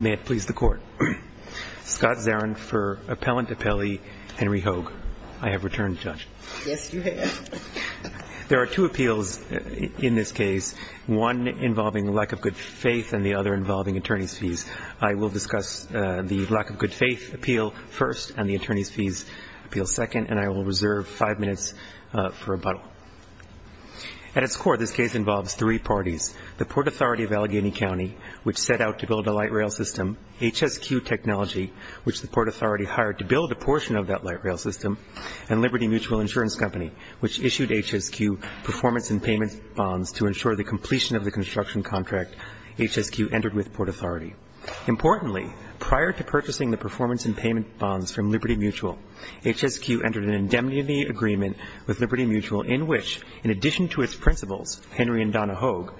May it please the Court. Scott Zarin for Appellant Appellee, Henry Hoge. I have returned, Judge. Yes, you have. There are two appeals in this case, one involving lack of good faith and the other involving attorney's fees. I will discuss the lack of good faith appeal first and the attorney's fees appeal second, and I will reserve five minutes for rebuttal. At its core, this case involves three parties, the Port Authority of Allegheny County, which set out to build a light rail system, HSQ Technology, which the Port Authority hired to build a portion of that light rail system, and Liberty Mutual Insurance Company, which issued HSQ performance and payment bonds to ensure the completion of the construction contract HSQ entered with Port Authority. Importantly, prior to purchasing the performance and payment bonds from Liberty Mutual, HSQ entered an indemnity agreement with Liberty Mutual in which, in addition to its principles, Henry and Donna Hoge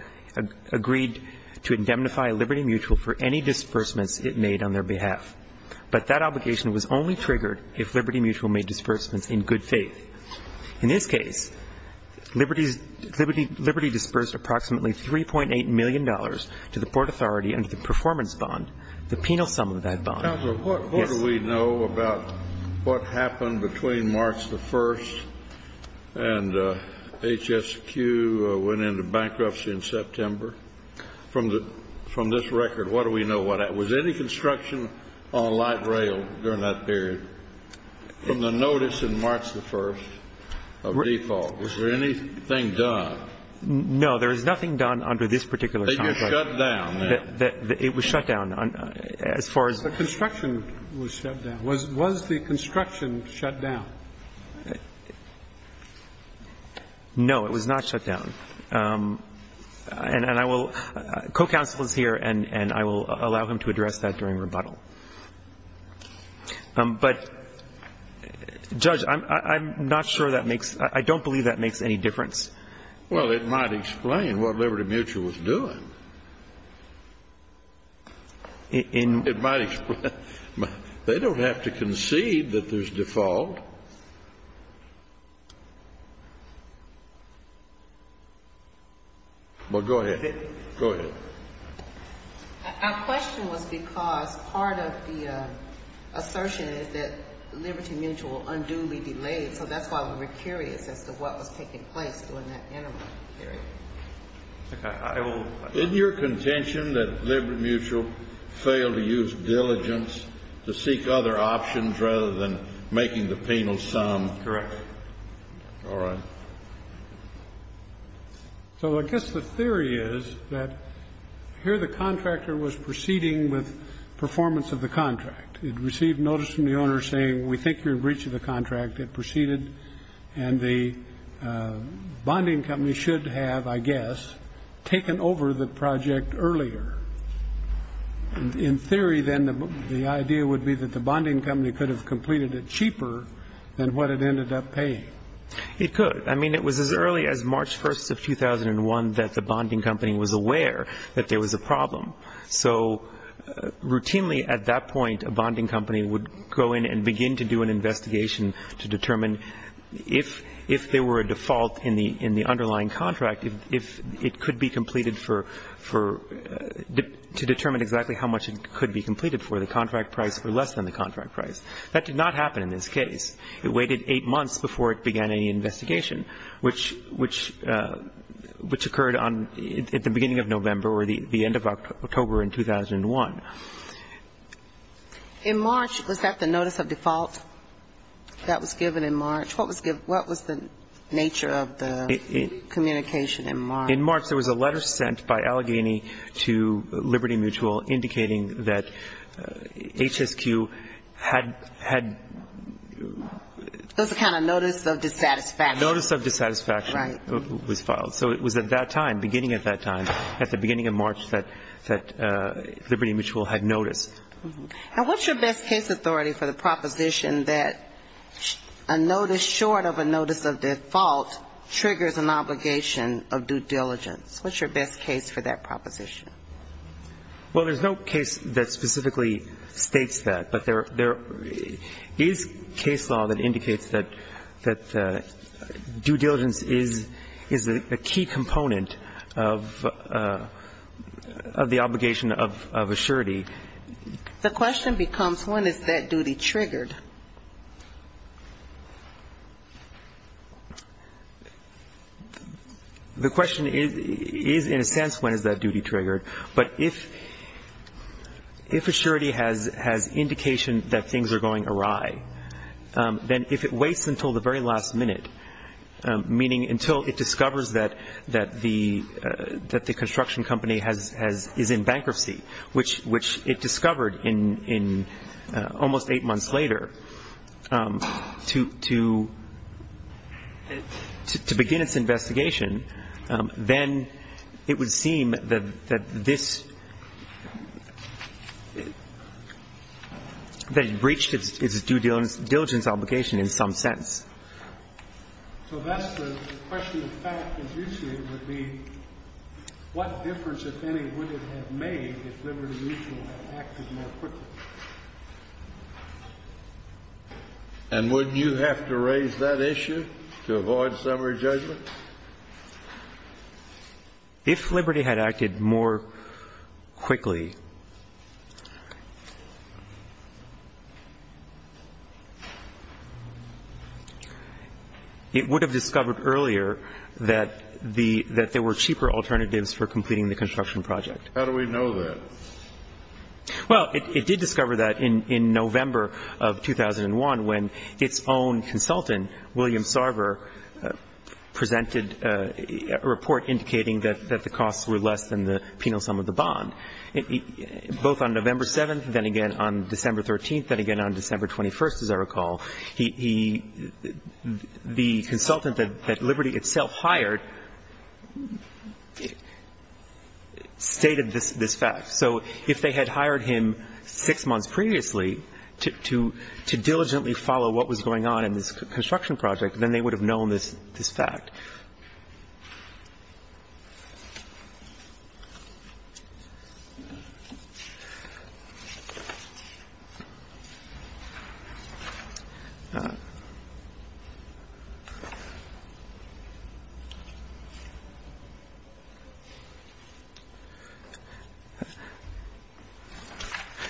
agreed to indemnify Liberty Mutual for any disbursements it made on their behalf. But that obligation was only triggered if Liberty Mutual made disbursements in good faith. In this case, Liberty's – Liberty disbursed approximately $3.8 million to the Port Authority under the performance bond, the penal sum of that bond. Kennedy. Counselor, what do we know about what happened between March the 1st and HSQ went into bankruptcy in September? From the – from this record, what do we know what – was any construction on light rail during that period? From the notice in March the 1st of default, was there anything done? No. There is nothing done under this particular contract. That you shut down, then? It was shut down. As far as – The construction was shut down. Was the construction shut down? No, it was not shut down. And I will – co-counsel is here, and I will allow him to address that during rebuttal. But, Judge, I'm not sure that makes – I don't believe that makes any difference. Well, it might explain what Liberty Mutual was doing. In – It might explain – they don't have to concede that there's default. Well, go ahead. Go ahead. Our question was because part of the assertion is that Liberty Mutual unduly delayed, so that's why we were curious as to what was taking place during that interim period. I will – Isn't your contention that Liberty Mutual failed to use diligence to seek other options rather than making the penal sum? Correct. All right. So I guess the theory is that here the contractor was proceeding with performance of the contract. It received notice from the owner saying, we think you're in breach of the contract. It proceeded. And the bonding company should have, I guess, taken over the project earlier. In theory, then, the idea would be that the bonding company could have completed it cheaper than what it ended up paying. It could. I mean, it was as early as March 1st of 2001 that the bonding company was aware that there was a problem. So routinely at that point a bonding company would go in and begin to do an investigation to determine if there were a default in the underlying contract, if it could be completed for – to determine exactly how much it could be completed for, the contract price or less than the contract price. That did not happen in this case. It waited 8 months before it began any investigation, which occurred on – at the beginning of November or the end of October in 2001. In March, was that the notice of default that was given in March? What was given – what was the nature of the communication in March? In March, there was a letter sent by Allegheny to Liberty Mutual indicating that HSQ had – had – It was a kind of notice of dissatisfaction. Notice of dissatisfaction was filed. Right. So it was at that time, beginning at that time, at the beginning of March, that And what's your best case authority for the proposition that a notice short of a notice of default triggers an obligation of due diligence? What's your best case for that proposition? Well, there's no case that specifically states that, but there is case law that indicates that due diligence is a key component of the obligation of assurity. The question becomes, when is that duty triggered? The question is, in a sense, when is that duty triggered, but if – if assurity has indication that things are going awry, then if it waits until the very last minute, meaning until it discovers that – that the – that the construction company has – is in bankruptcy, which it discovered in – almost eight months later, to – to begin its investigation, then it would seem that this – that it breached its due diligence obligation in some sense. So that's the question of fact, as you see it, would be what difference, if any, would it have made if Liberty Mutual had acted more quickly? And wouldn't you have to raise that issue to avoid summary judgment? If Liberty had acted more quickly, it would have discovered earlier that the – that there were cheaper alternatives for completing the construction project. How do we know that? Well, it – it did discover that in – in November of 2001, when its own consultant, William Sarver, presented a report indicating that – that the costs were less than the penal sum of the bond. Both on November 7th, then again on December 13th, then again on December 21st, as I recall, he – the consultant that Liberty itself hired stated this – this fact. So if they had hired him six months previously to – to diligently follow what was going on in this construction project, then they would have known this – this fact.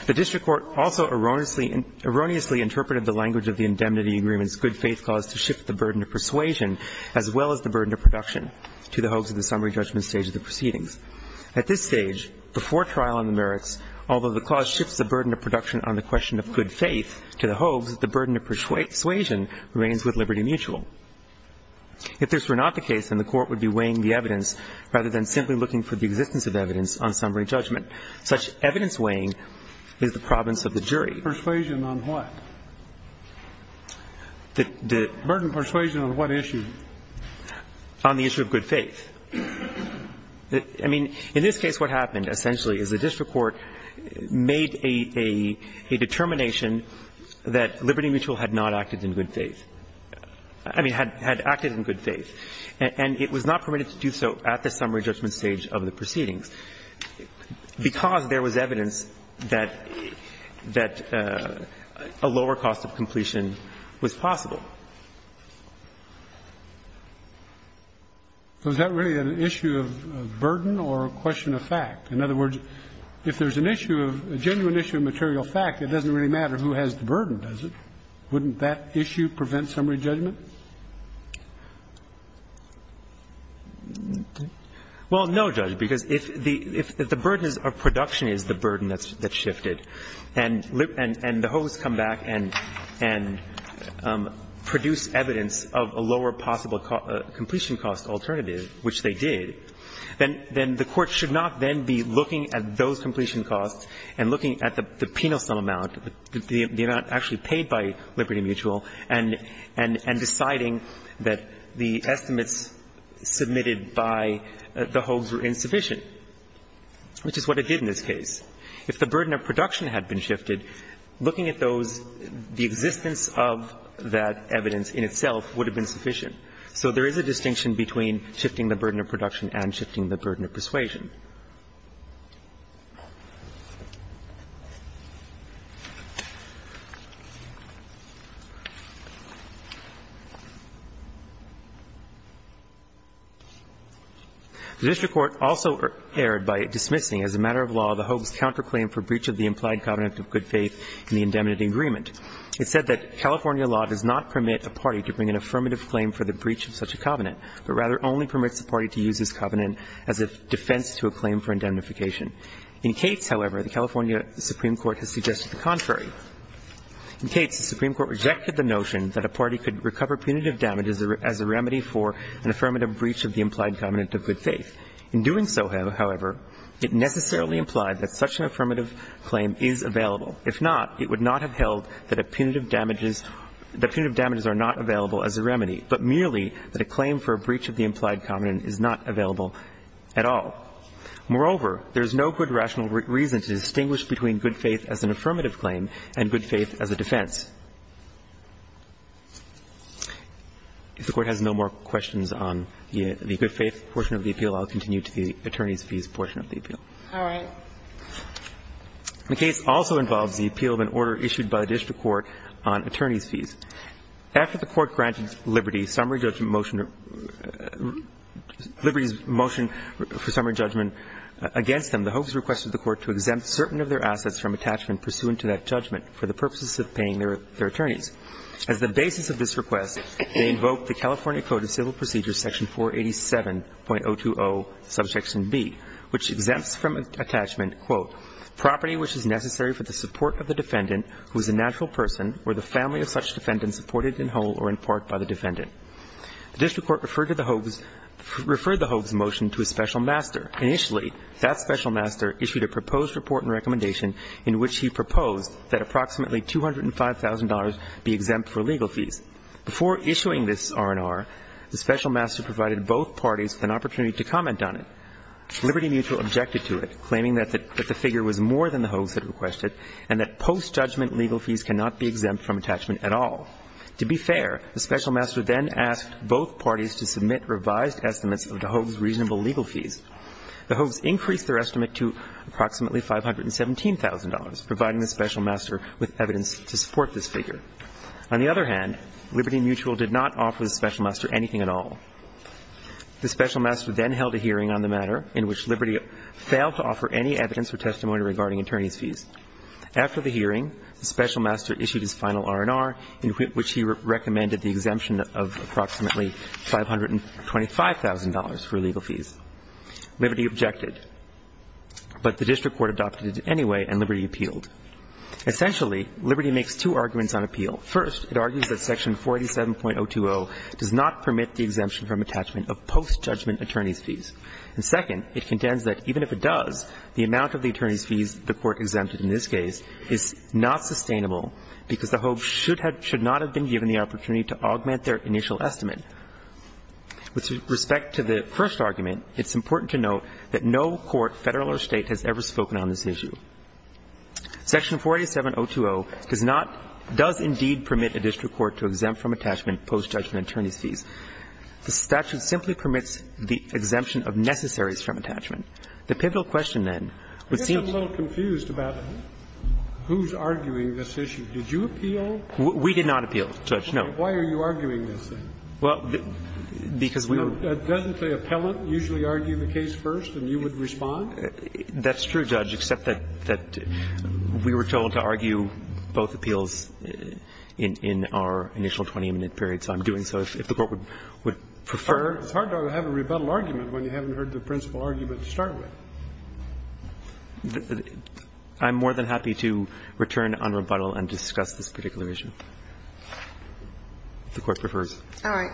The district court also erroneously – erroneously interpreted the language of the indemnity agreement's good-faith clause to shift the burden of persuasion as well as the burden of production to the hoax of the summary judgment stage of the proceedings. At this stage, before trial on the merits, although the clause shifts the burden of production on the question of good faith to the hoax, the burden of persuasion remains with Liberty Mutual. If this were not the case, then the court would be weighing the evidence rather than simply looking for the existence of evidence on summary judgment. Such evidence weighing is the province of the jury. The burden of persuasion on what? The burden of persuasion on what issue? On the issue of good faith. I mean, in this case, what happened essentially is the district court made a – a determination that Liberty Mutual had not acted in good faith – I mean, had acted in good faith, and it was not permitted to do so at the summary judgment stage of the proceedings because there was evidence that – that a lower cost of completion was possible. So is that really an issue of burden or a question of fact? In other words, if there's an issue of – a genuine issue of material fact, it doesn't really matter who has the burden, does it? Wouldn't that issue prevent summary judgment? Well, no, Judge, because if the – if the burden of production is the burden that's shifted, and the hoax come back and produce evidence of a lower possible completion cost alternative, which they did, then – then the court should not then be looking at those completion costs and looking at the penal sum amount, the amount actually paid by Liberty Mutual, and – and deciding that the estimates submitted by the hoax were insufficient, which is what it did in this case. If the burden of production had been shifted, looking at those, the existence of that evidence in itself would have been sufficient. So there is a distinction between shifting the burden of production and shifting the burden of persuasion. The district court also erred by dismissing as a matter of law the hoax counterclaim for breach of the implied covenant of good faith in the indemnity agreement. It said that California law does not permit a party to bring an affirmative claim for the breach of such a covenant, but rather only permits a party to use this covenant as a defense to a claim for indemnification. In Cates, however, the California Supreme Court has suggested the contrary. In Cates, the Supreme Court rejected the notion that a party could recover punitive damages as a remedy for an affirmative breach of the implied covenant of good faith. In doing so, however, it necessarily implied that such an affirmative claim is available. If not, it would not have held that a punitive damages – that punitive damages are not available as a remedy, but merely that a claim for a breach of the implied covenant is not available at all. Moreover, there is no good rational reason to distinguish between good faith as an affirmative claim and good faith as a defense. If the Court has no more questions on the good faith portion of the appeal, I'll continue to the attorneys' fees portion of the appeal. All right. The case also involves the appeal of an order issued by the district court on attorneys' fees. After the Court granted Liberty summary judgment motion – Liberty's motion for summary judgment against them, the hopes requested the Court to exempt certain of their assets from attachment pursuant to that judgment for the purposes of paying their attorneys. As the basis of this request, they invoked the California Code of Civil Procedures Section 487.020, subsection B, which exempts from attachment, quote, property which is necessary for the support of the defendant who is a natural person or the family of such defendant supported in whole or in part by the defendant. The district court referred to the hopes – referred the hopes motion to a special master. Initially, that special master issued a proposed report and recommendation in which he proposed that approximately $205,000 be exempt for legal fees. Before issuing this R&R, the special master provided both parties an opportunity to comment on it. Liberty Mutual objected to it, claiming that the figure was more than the hopes had requested and that post-judgment legal fees cannot be exempt from attachment at all. To be fair, the special master then asked both parties to submit revised estimates of the hopes' reasonable legal fees. The hopes increased their estimate to approximately $517,000, providing the special master with evidence to support this figure. On the other hand, Liberty Mutual did not offer the special master anything at all. The special master then held a hearing on the matter in which Liberty failed to offer any evidence or testimony regarding attorney's fees. After the hearing, the special master issued his final R&R in which he recommended the exemption of approximately $525,000 for legal fees. Liberty objected, but the district court adopted it anyway and Liberty appealed. Essentially, Liberty makes two arguments on appeal. First, it argues that Section 487.020 does not permit the exemption from attachment of post-judgment attorney's fees. And second, it contends that even if it does, the amount of the attorney's fees the Court exempted in this case is not sustainable because the hopes should not have been given the opportunity to augment their initial estimate. With respect to the first argument, it's important to note that no court, Federal or State, has ever spoken on this issue. Section 487.020 does not – does indeed permit a district court to exempt from attachment post-judgment attorney's fees. The statute simply permits the exemption of necessaries from attachment. The pivotal question, then, would seem to be – Scalia, I'm just a little confused about who's arguing this issue. Did you appeal? We did not appeal, Judge, no. Why are you arguing this thing? Well, because we were – Doesn't the appellant usually argue the case first and you would respond? That's true, Judge, except that we were told to argue both appeals in our initial 20-minute period, so I'm doing so if the Court would prefer. It's hard to have a rebuttal argument when you haven't heard the principal argument to start with. I'm more than happy to return on rebuttal and discuss this particular issue if the Court prefers. All right.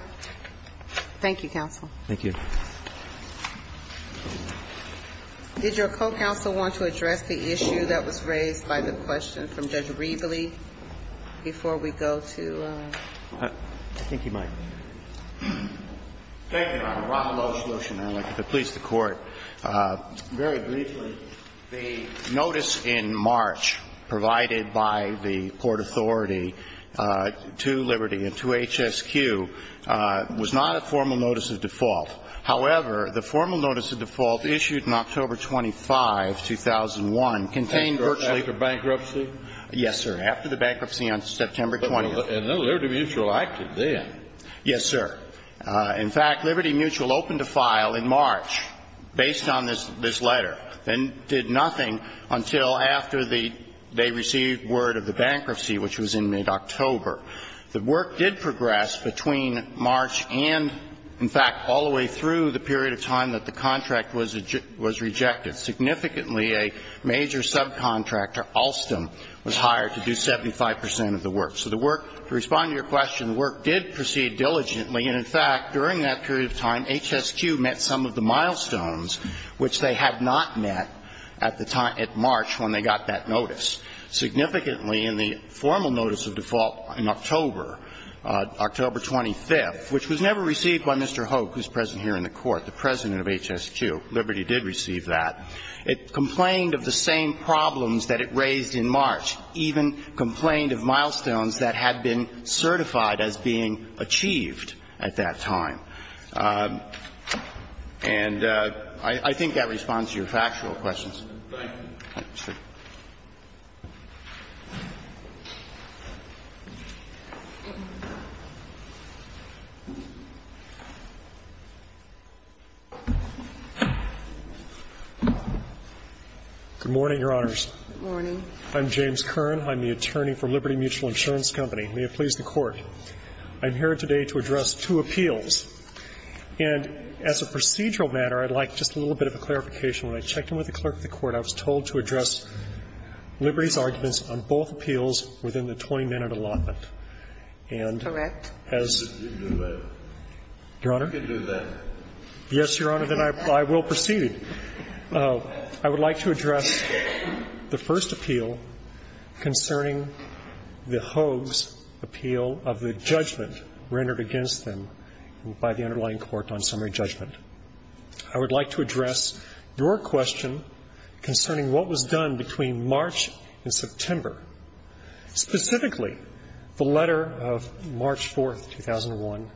Thank you, counsel. Thank you. Did your co-counsel want to address the issue that was raised by the question from Judge Rieble before we go to – I think he might. Thank you, Your Honor. Rob Lowe, solution. I'd like to please the Court. Very briefly, the notice in March provided by the Port Authority to Liberty and to HSQ was not a formal notice of default. However, the formal notice of default issued in October 25, 2001 contained virtually – After bankruptcy? Yes, sir. After the bankruptcy on September 20th. And then Liberty Mutual acted then. Yes, sir. In fact, Liberty Mutual opened a file in March based on this letter and did nothing until after the – they received word of the bankruptcy, which was in mid-October. The work did progress between March and, in fact, all the way through the period of time that the contract was rejected. Significantly, a major subcontractor, Alstom, was hired to do 75 percent of the work. So the work – to respond to your question, the work did proceed diligently. And in fact, during that period of time, HSQ met some of the milestones which they had not met at the time – at March when they got that notice. Significantly, in the formal notice of default in October, October 25th, which was never received by Mr. Hope, who's present here in the Court, the president of HSQ. Liberty did receive that. It complained of the same problems that it raised in March, even complained of milestones that had been certified as being achieved at that time. And I think that responds to your factual questions. Thank you. Good morning, Your Honors. Good morning. I'm James Kern. I'm the attorney for Liberty Mutual Insurance Company. May it please the Court. I'm here today to address two appeals. And as a procedural matter, I'd like just a little bit of a clarification. When I checked in with the clerk of the court, I was told to address Liberty's arguments on both appeals within the 20-minute allotment. And as your Honor, yes, Your Honor, then I will proceed. I would like to address the first appeal concerning the Hogue's appeal of the judgment rendered against them by the underlying court on summary judgment. I would like to address your question concerning what was done between March and September. Specifically, the letter of March 4th, 2001,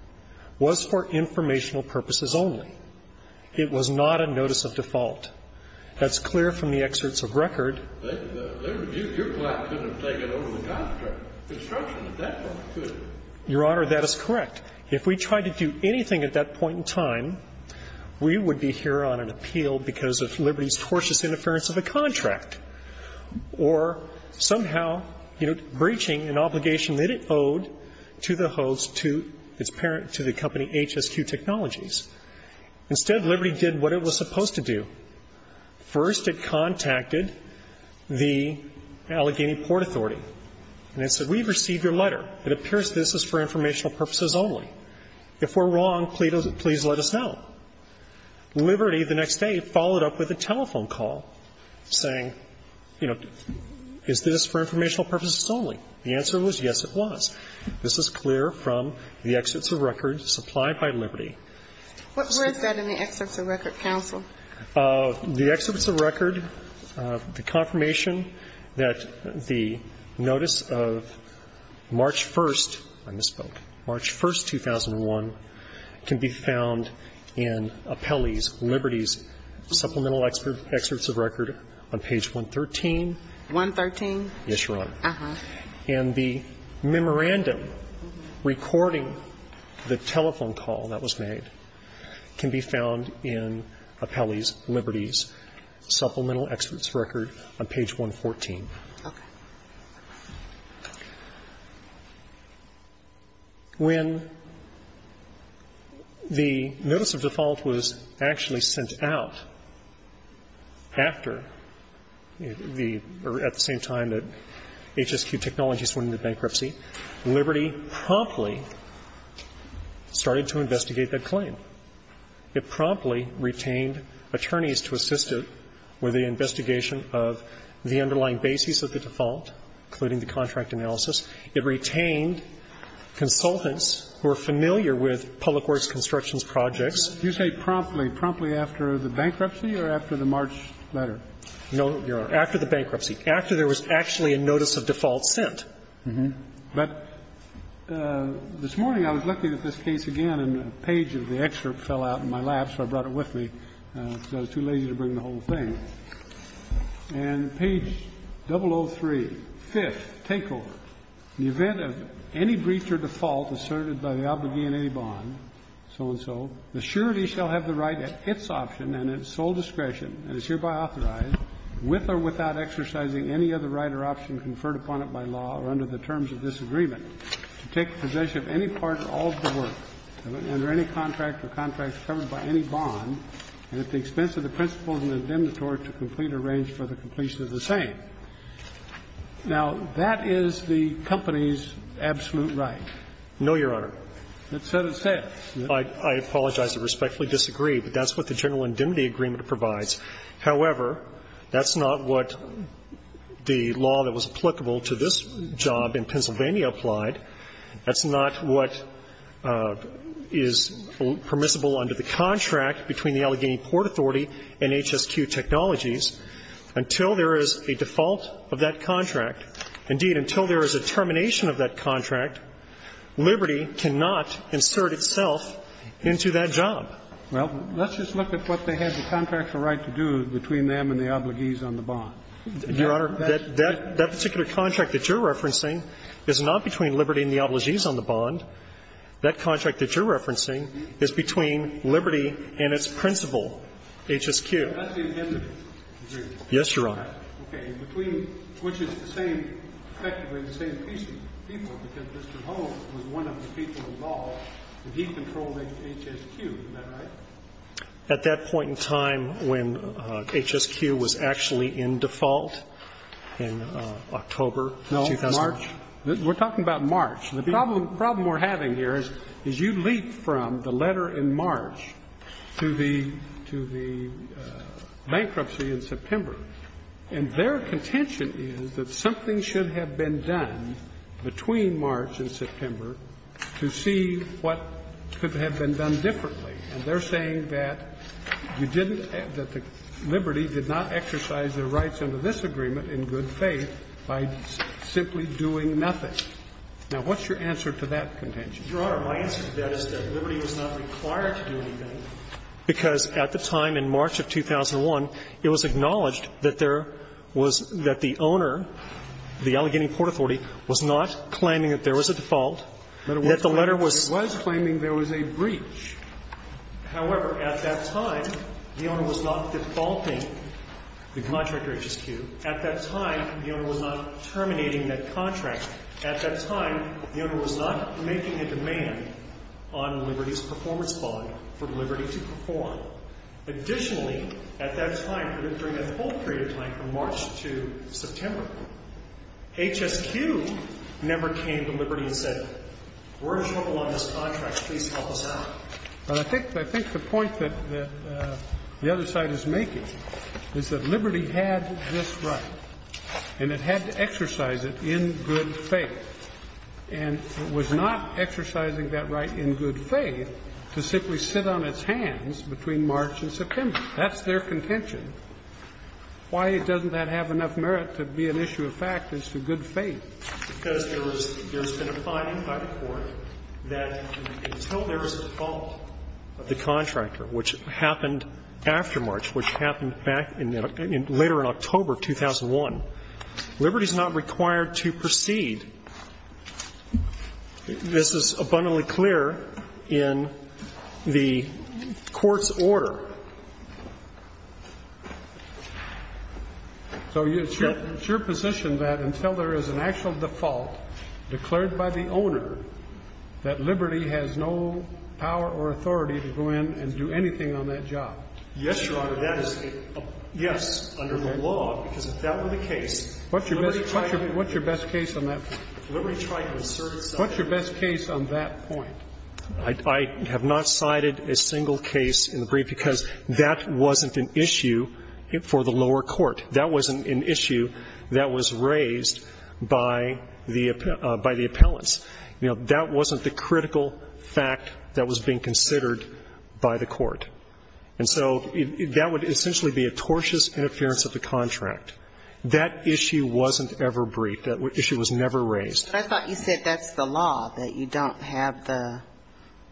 was for informational purposes only. It was not a notice of default. That's clear from the excerpts of record. Your Honor, that is correct. If we tried to do anything at that point in time, we would be here on an appeal because of Liberty's tortious interference of a contract or somehow, you know, breaching an obligation that it owed to the Hogue's, to its parent, to the company HSQ Technologies. Instead, Liberty did what it was supposed to do. First, it contacted the Allegheny Port Authority. And it said, we've received your letter. It appears this is for informational purposes only. If we're wrong, please let us know. Liberty, the next day, followed up with a telephone call saying, you know, is this for informational purposes only? The answer was yes, it was. This is clear from the excerpts of record supplied by Liberty. What was that in the excerpts of record, counsel? The excerpts of record, the confirmation that the notice of March 1st, I misspoke, March 1st, 2001, can be found in Appellee's, Liberty's supplemental excerpts of record on page 113. 113? Yes, Your Honor. And the memorandum recording the telephone call that was made can be found in Appellee's Liberty's supplemental excerpts of record on page 114. Okay. When the notice of default was actually sent out after the or at the same time that HSQ Technologies went into bankruptcy, Liberty promptly started to investigate that claim. It promptly retained attorneys to assist it with the investigation of the underlying basis of the default, including the contract analysis. It retained consultants who are familiar with public works constructions projects. You say promptly, promptly after the bankruptcy or after the March letter? No, Your Honor. After the bankruptcy. After there was actually a notice of default sent. But this morning I was looking at this case again and a page of the excerpt fell out in my lap, so I brought it with me because I was too lazy to bring the whole thing. And page 003, fifth, takeover. In the event of any breach or default asserted by the obligee in any bond, so-and-so, the surety shall have the right at its option and at sole discretion, and is hereby authorized, with or without exercising any other right or option conferred upon it by law or under the terms of this agreement, to take possession of any part or all of the work, under any contract or contracts covered by any bond, and at the expense of the principles and indemnitory, to complete or arrange for the completion of the same. Now, that is the company's absolute right. No, Your Honor. So it says. I apologize. I respectfully disagree. But that's what the general indemnity agreement provides. However, that's not what the law that was applicable to this job in Pennsylvania applied. That's not what is permissible under the contract between the Allegheny Port Authority and HSQ Technologies. Until there is a default of that contract, indeed, until there is a termination of that contract, Liberty cannot insert itself into that job. Well, let's just look at what they had the contractual right to do between them and the obligees on the bond. Your Honor, that particular contract that you're referencing is not between Liberty and the obligees on the bond. That contract that you're referencing is between Liberty and its principal, HSQ. That's the indemnity agreement. Yes, Your Honor. Okay. Between, which is the same, effectively the same people, because Mr. Holmes was one of the people involved, he controlled HSQ. Is that right? At that point in time when HSQ was actually in default in October of 2001. No, March. We're talking about March. The problem we're having here is you leap from the letter in March to the bankruptcy in September. And their contention is that something should have been done between March and September to see what could have been done differently. And they're saying that you didn't, that Liberty did not exercise their rights under this agreement in good faith by simply doing nothing. Now, what's your answer to that contention? Your Honor, my answer to that is that Liberty was not required to do anything because at the time in March of 2001, it was acknowledged that there was, that the letter was. It was claiming there was a breach. However, at that time, the owner was not defaulting the contract to HSQ. At that time, the owner was not terminating that contract. At that time, the owner was not making a demand on Liberty's performance bond for Liberty to perform. Additionally, at that time, during that whole period of time from March to September, HSQ never came to Liberty and said, we're in trouble on this contract. Please help us out. Well, I think the point that the other side is making is that Liberty had this right and it had to exercise it in good faith. And it was not exercising that right in good faith to simply sit on its hands between March and September. That's their contention. Why doesn't that have enough merit to be an issue of fact as to good faith? Because there's been a finding by the Court that until there is a fault of the contractor, which happened after March, which happened later in October of 2001, Liberty's not required to proceed. This is abundantly clear in the Court's order. So it's your position that until there is an actual default declared by the owner that Liberty has no power or authority to go in and do anything on that job? Yes, Your Honor. That is a yes under the law. Okay. Because if that were the case, what's your best case on that point? Liberty tried to assert itself. What's your best case on that point? I have not cited a single case in the brief because that wasn't an issue for the lower court. That wasn't an issue that was raised by the appellants. You know, that wasn't the critical fact that was being considered by the court. And so that would essentially be a tortious interference of the contract. That issue wasn't ever briefed. That issue was never raised. I thought you said that's the law, that you don't have the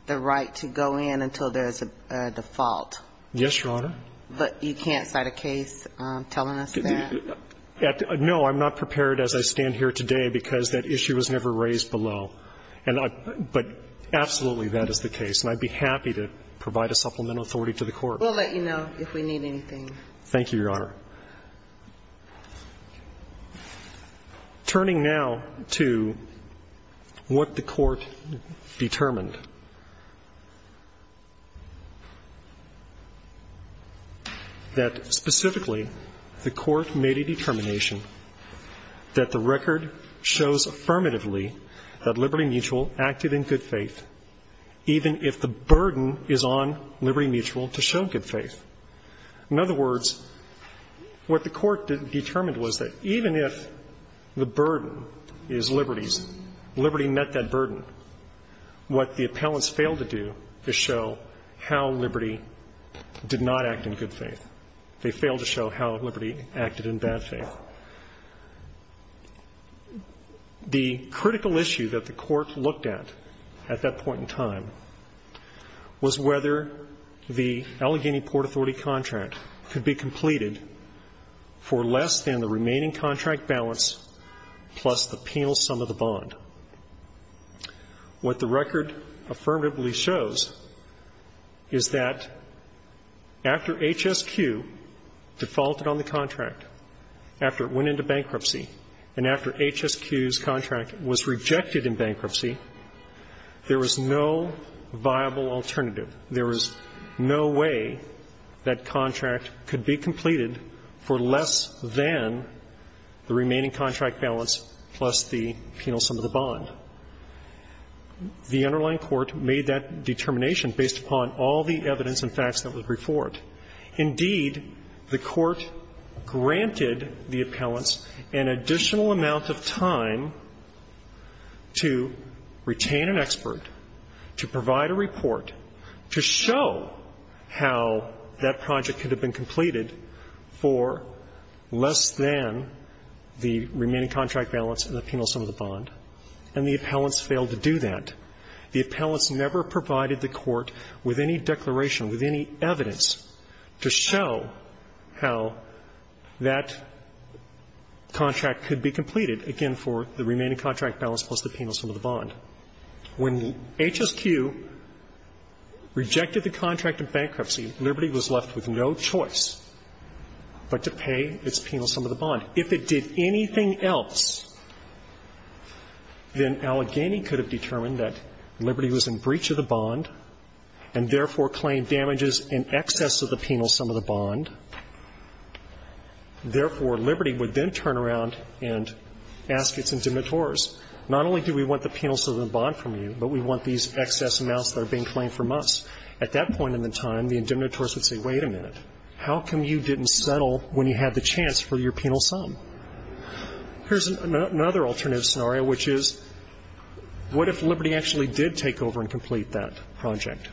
right to go in until there is a default. Yes, Your Honor. But you can't cite a case telling us that? No. I'm not prepared as I stand here today because that issue was never raised below. But absolutely that is the case. And I'd be happy to provide a supplemental authority to the court. We'll let you know if we need anything. Thank you, Your Honor. Turning now to what the court determined, that specifically the court made a determination that the record shows affirmatively that Liberty Mutual acted in good faith, even if the burden is on Liberty Mutual to show good faith. In other words, what the court determined was that even if the burden is Liberty's, Liberty met that burden, what the appellants failed to do is show how Liberty did not act in good faith. They failed to show how Liberty acted in bad faith. The critical issue that the court looked at, at that point in time, was whether the Allegheny Port Authority contract could be completed for less than the remaining contract balance plus the penal sum of the bond. What the record affirmatively shows is that after HSQ defaulted on the contract, after it went into bankruptcy, and after HSQ's contract was rejected in bankruptcy, there was no viable alternative. There was no way that contract could be completed for less than the remaining contract balance plus the penal sum of the bond. The underlying court made that determination based upon all the evidence and facts that was before it. Indeed, the court granted the appellants an additional amount of time to retain an expert, to provide a report, to show how that project could have been completed for less than the remaining contract balance and the penal sum of the bond, and the appellants failed to do that. The appellants never provided the court with any declaration, with any evidence, to show how that contract could be completed, again, for the remaining contract balance plus the penal sum of the bond. When HSQ rejected the contract in bankruptcy, Liberty was left with no choice but to pay its penal sum of the bond. If it did anything else, then Allegheny could have determined that Liberty was in breach of the bond and therefore claimed damages in excess of the penal sum of the bond. Therefore, Liberty would then turn around and ask its indemnitores, not only do we want the penal sum of the bond from you, but we want these excess amounts that are being claimed from us. At that point in the time, the indemnitores would say, wait a minute, how come you didn't settle when you had the chance for your penal sum? Here's another alternative scenario, which is, what if Liberty actually did take over and complete that project?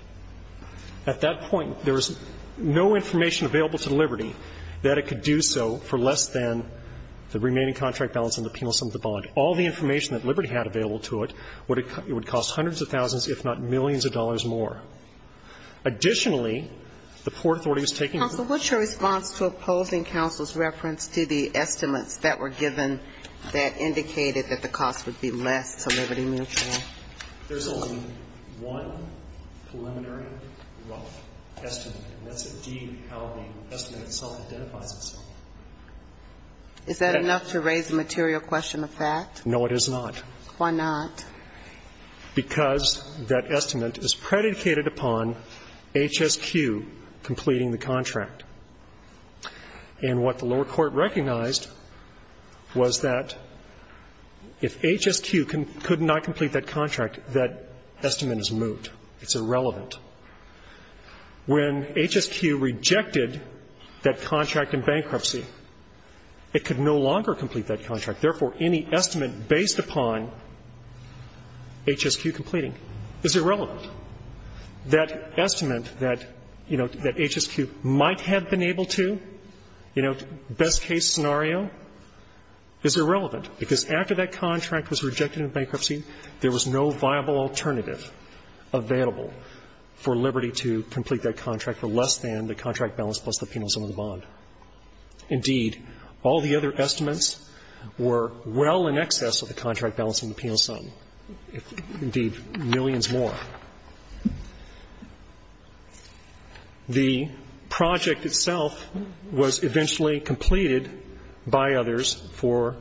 At that point, there was no information available to Liberty that it could do so for less than the remaining contract balance and the penal sum of the bond. All the information that Liberty had available to it would have cost hundreds of thousands, if not millions of dollars more. Additionally, the Port Authority was taking control. Ginsburg. Counsel, what's your response to opposing counsel's reference to the estimates that were given that indicated that the cost would be less to Liberty Mutual? There's only one preliminary rough estimate, and that's indeed how the estimate itself identifies itself. Is that enough to raise the material question of fact? No, it is not. Why not? Because that estimate is predicated upon HSQ completing the contract. And what the lower court recognized was that if HSQ could not complete that contract, that estimate is moot. It's irrelevant. When HSQ rejected that contract in bankruptcy, it could no longer complete that contract. Therefore, any estimate based upon HSQ completing is irrelevant. That estimate that, you know, that HSQ might have been able to, you know, best-case scenario, is irrelevant. Because after that contract was rejected in bankruptcy, there was no viable alternative available for Liberty to complete that contract for less than the contract balance plus the penal sum of the bond. Indeed, all the other estimates were well in excess of the contract balance and the penal sum of the bond. The project itself was eventually completed by others for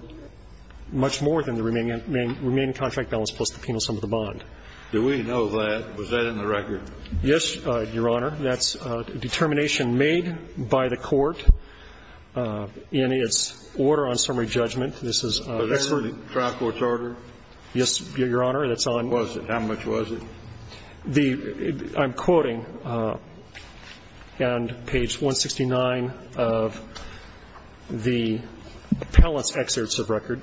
much more than the remaining contract balance plus the penal sum of the bond. Do we know that? Was that in the record? Yes, Your Honor. That's a determination made by the court in its order on summary judgment. This is an expert. Was that in the trial court's order? Yes, Your Honor. That's on. Was it? How much was it? I'm quoting on page 169 of the appellant's excerpts of record.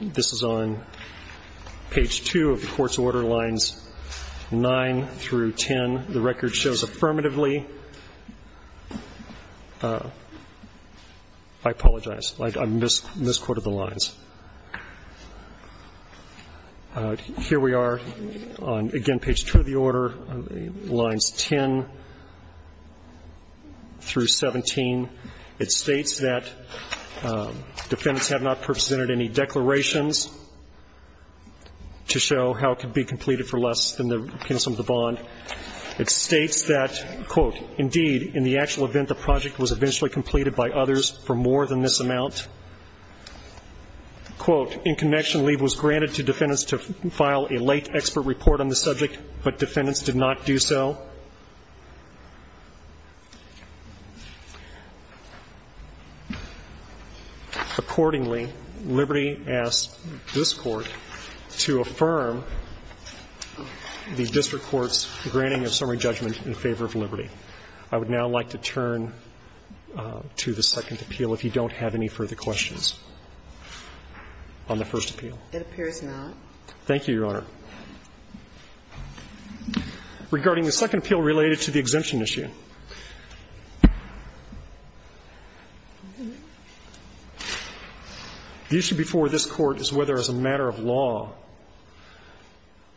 This is on page 2 of the court's order lines 9 through 10. The record shows affirmatively. I misquoted the lines. Here we are on, again, page 2 of the order, lines 10 through 17. It states that defendants have not presented any declarations to show how it could be completed for less than the penal sum of the bond. It states that, quote, in connection, leave was granted to defendants to file a late expert report on the subject, but defendants did not do so. Accordingly, Liberty asked this Court to affirm the district court's granting of summary judgment in favor of Liberty. I would now like to turn to the second appeal, if you don't have any further questions. On the first appeal. It appears not. Thank you, Your Honor. Regarding the second appeal related to the exemption issue, the issue before this Court is whether, as a matter of law,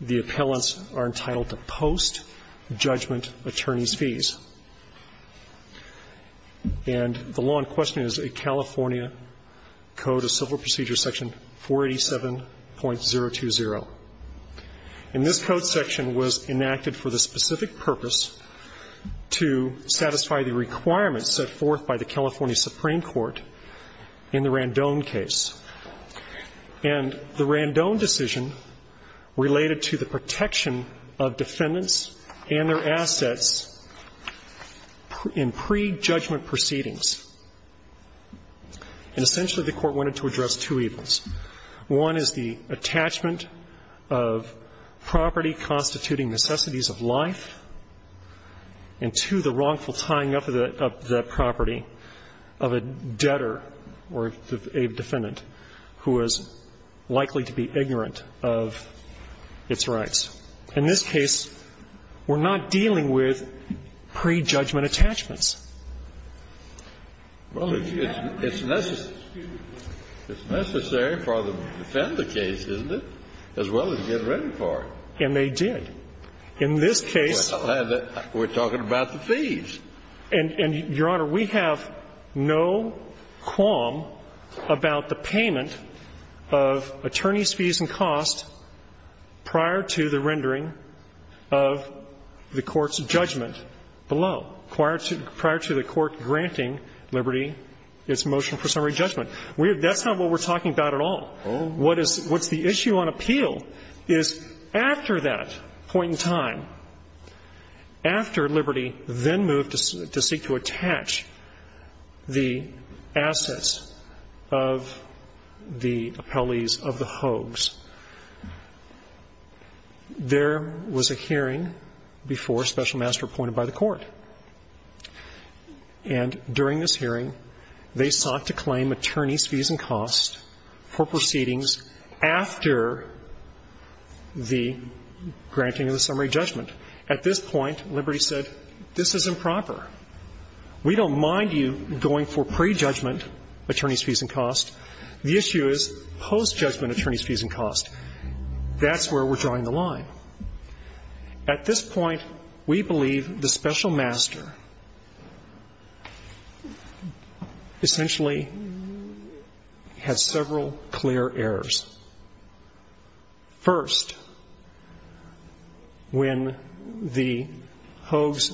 the appellants are entitled to post-judgment attorney's fees. And the law in question is a California Code of Civil Procedures, Section 487.020. And this code section was enacted for the specific purpose to satisfy the requirements set forth by the California Supreme Court in the Randone case. And the Randone decision related to the protection of defendants and their assets in pre-judgment proceedings. And essentially, the Court wanted to address two evils. One is the attachment of property constituting necessities of life, and two, the wrongful tying up of that property of a debtor or a defendant who is likely to be ignorant of its rights. In this case, we're not dealing with pre-judgment attachments. Well, it's necessary for them to defend the case, isn't it, as well as get ready for it. And they did. In this case we're talking about the fees. And, Your Honor, we have no qualm about the payment of attorney's fees and costs prior to the rendering of the court's judgment below, prior to the court granting Liberty its motion for summary judgment. That's not what we're talking about at all. What is the issue on appeal is, after that point in time, after Liberty then moved to seek to attach the assets of the appellees of the hoax, there was a hearing before Special Master appointed by the Court. And during this hearing, they sought to claim attorney's fees and costs for proceedings after the granting of the summary judgment. At this point, Liberty said, this is improper. We don't mind you going for pre-judgment attorney's fees and costs. The issue is post-judgment attorney's fees and costs. That's where we're drawing the line. At this point, we believe the Special Master essentially has several clear errors. First, when the hoax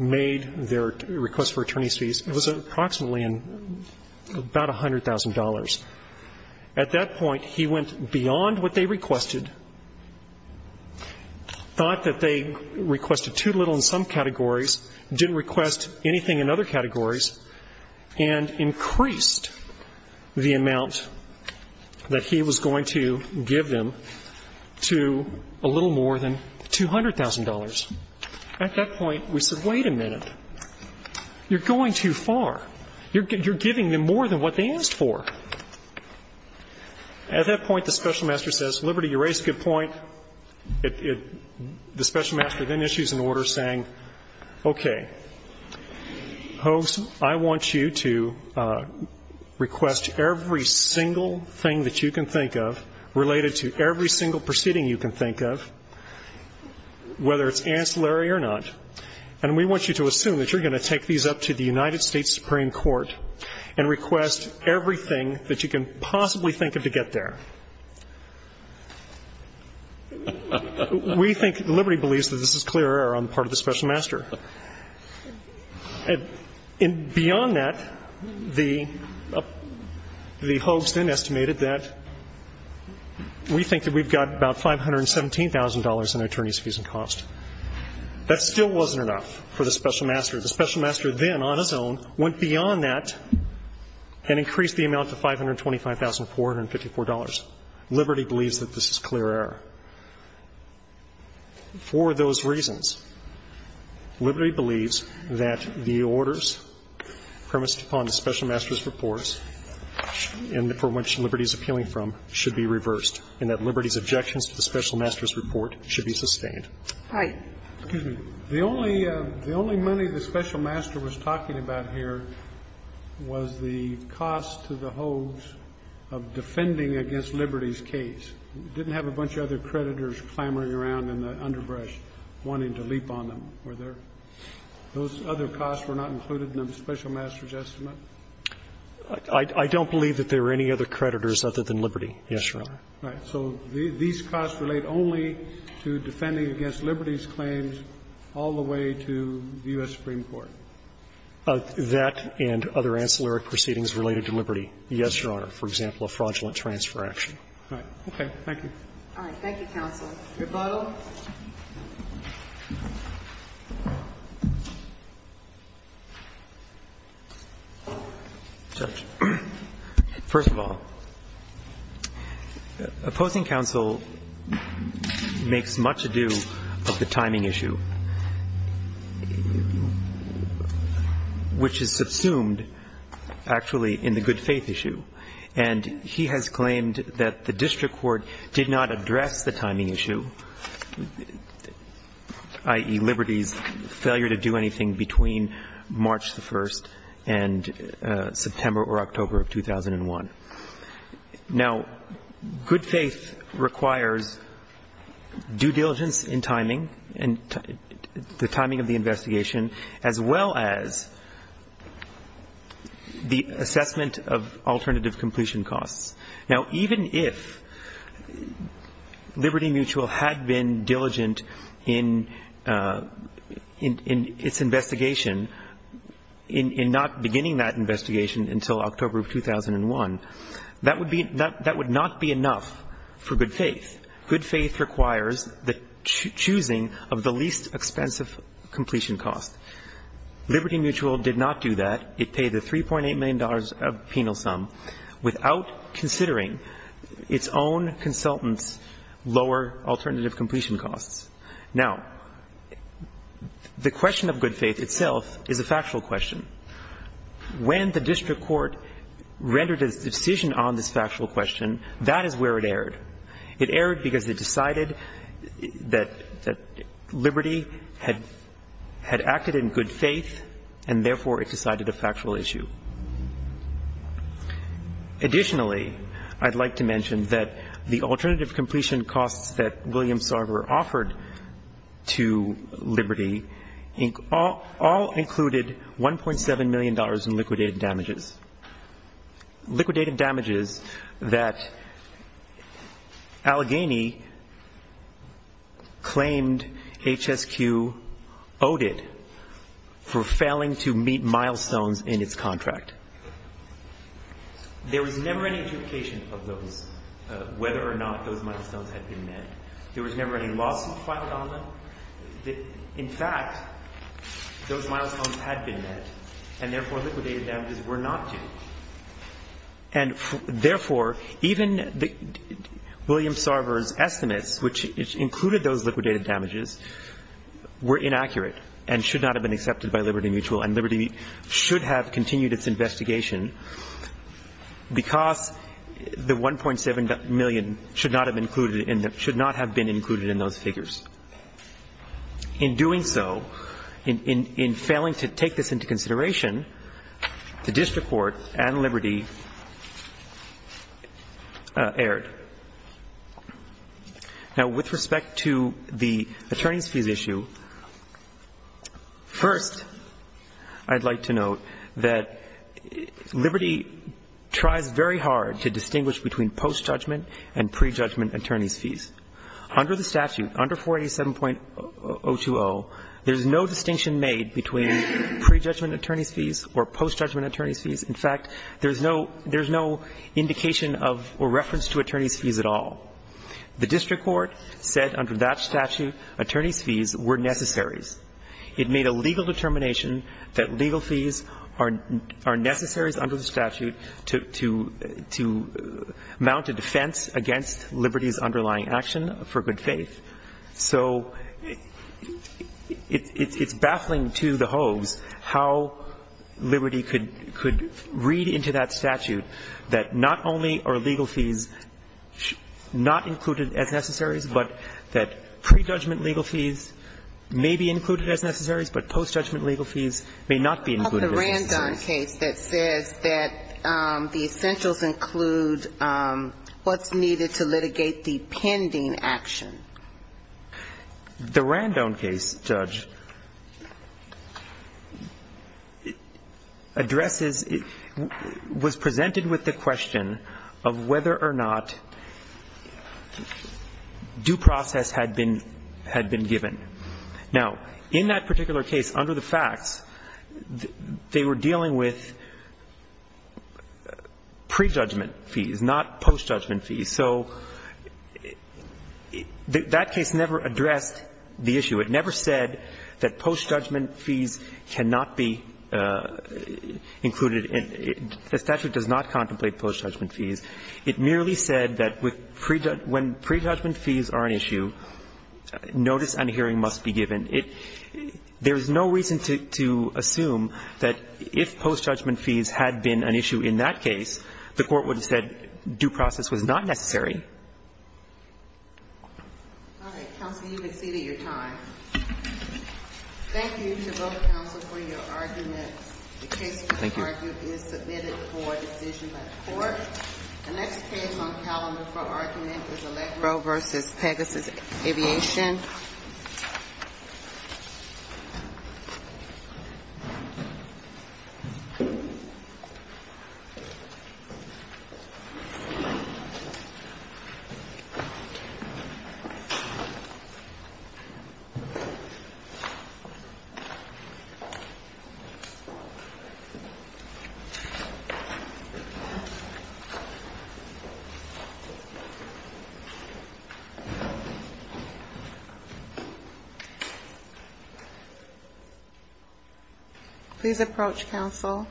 made their request for attorney's fees, it was approximately about $100,000. At that point, he went beyond what they requested, thought that they requested too little in some categories, didn't request anything in other categories, and increased the amount that he was going to give them to a little more than $200,000. At that point, we said, wait a minute. You're going too far. You're giving them more than what they asked for. At that point, the Special Master says, Liberty, you raised a good point. The Special Master then issues an order saying, okay, hoax, I want you to request every single thing that you can think of related to every single proceeding you can think of, whether it's ancillary or not, and we want you to assume that you're going to take these up to the United States Supreme Court and request everything that you can possibly think of to get there. We think, Liberty believes that this is clear error on the part of the Special Master. And beyond that, the hoax then estimated that we think that we've got about $517,000 in attorney's fees and costs. That still wasn't enough for the Special Master. The Special Master then, on his own, went beyond that and increased the amount to $525,454. Liberty believes that this is clear error. For those reasons, Liberty believes that the orders premised upon the Special Master's reports and for which Liberty is appealing from should be reversed and that Liberty's objections to the Special Master's report should be sustained. The only money the Special Master was talking about here was the cost to the hoax of defending against Liberty's case. It didn't have a bunch of other creditors clamoring around in the underbrush wanting to leap on them, were there? Those other costs were not included in the Special Master's estimate? I don't believe that there were any other creditors other than Liberty, yes, Your Honor. Right. So these costs relate only to defending against Liberty's claims all the way to the U.S. Supreme Court. That and other ancillary proceedings related to Liberty, yes, Your Honor. For example, a fraudulent transfer action. Right. Thank you. Thank you, counsel. Your final? Judge, first of all, opposing counsel makes much ado of the timing issue, which is subsumed actually in the good faith issue, and he has claimed that the district court did not address the timing issue, i.e., Liberty's failure to do anything between March 1st and September or October of 2001. Now, good faith requires due diligence in timing and the timing of the investigation as well as the assessment of alternative completion costs. Now, even if Liberty Mutual had been diligent in its investigation, in not beginning that investigation until October of 2001, that would not be enough for good faith. Good faith requires the choosing of the least expensive completion cost. Liberty Mutual did not do that. It paid the $3.8 million of penal sum without considering its own consultants' lower alternative completion costs. Now, the question of good faith itself is a factual question. When the district court rendered its decision on this factual question, that is where it erred. It erred because it decided that Liberty had acted in good faith, and therefore it decided a factual issue. Additionally, I'd like to mention that the alternative completion costs that William Sarver offered to Liberty all included $1.7 million in liquidated damages, liquidated damages that Allegheny claimed HSQ owed it for failing to meet milestones in its contract. There was never any duplication of those, whether or not those milestones had been met. There was never any lawsuit filed on them. In fact, those milestones had been met, and therefore liquidated damages were not due. And therefore, even William Sarver's estimates, which included those liquidated damages, were inaccurate and should not have been accepted by Liberty Mutual, and Liberty should have continued its investigation because the $1.7 million should not have been included in those figures. In doing so, in failing to take this into consideration, the district court and Liberty erred. Now, with respect to the attorneys' fees issue, first, I'd like to note that Liberty tries very hard to distinguish between post-judgment and pre-judgment attorneys' fees. Under the statute, under 487.020, there's no distinction made between pre-judgment attorneys' fees or post-judgment attorneys' fees. In fact, there's no indication of or reference to attorneys' fees at all. The district court said under that statute attorneys' fees were necessaries. It made a legal determination that legal fees are necessary under the statute to mount a defense against Liberty's underlying action for good faith. So it's baffling to the hoes how Liberty could read into that statute that not only are legal fees not included as necessaries, but that pre-judgment legal fees may be included as necessaries, but post-judgment legal fees may not be included as necessaries. The Randone case that says that the essentials include what's needed to litigate the pending action. The Randone case, Judge, addresses ñ was presented with the question of whether or not due process had been ñ had been given. Now, in that particular case, under the facts, they were dealing with pre-judgment fees, not post-judgment fees. So that case never addressed the issue. It never said that post-judgment fees cannot be included. The statute does not contemplate post-judgment fees. It merely said that when pre-judgment fees are an issue, notice and hearing must be given. There is no reason to assume that if post-judgment fees had been an issue in that case, the Court would have said due process was not necessary. All right. Counsel, you've exceeded your time. Thank you to both counsel for your arguments. Thank you. The next case on calendar for argument is Allegro v. Pegasus Aviation. Please approach, counsel.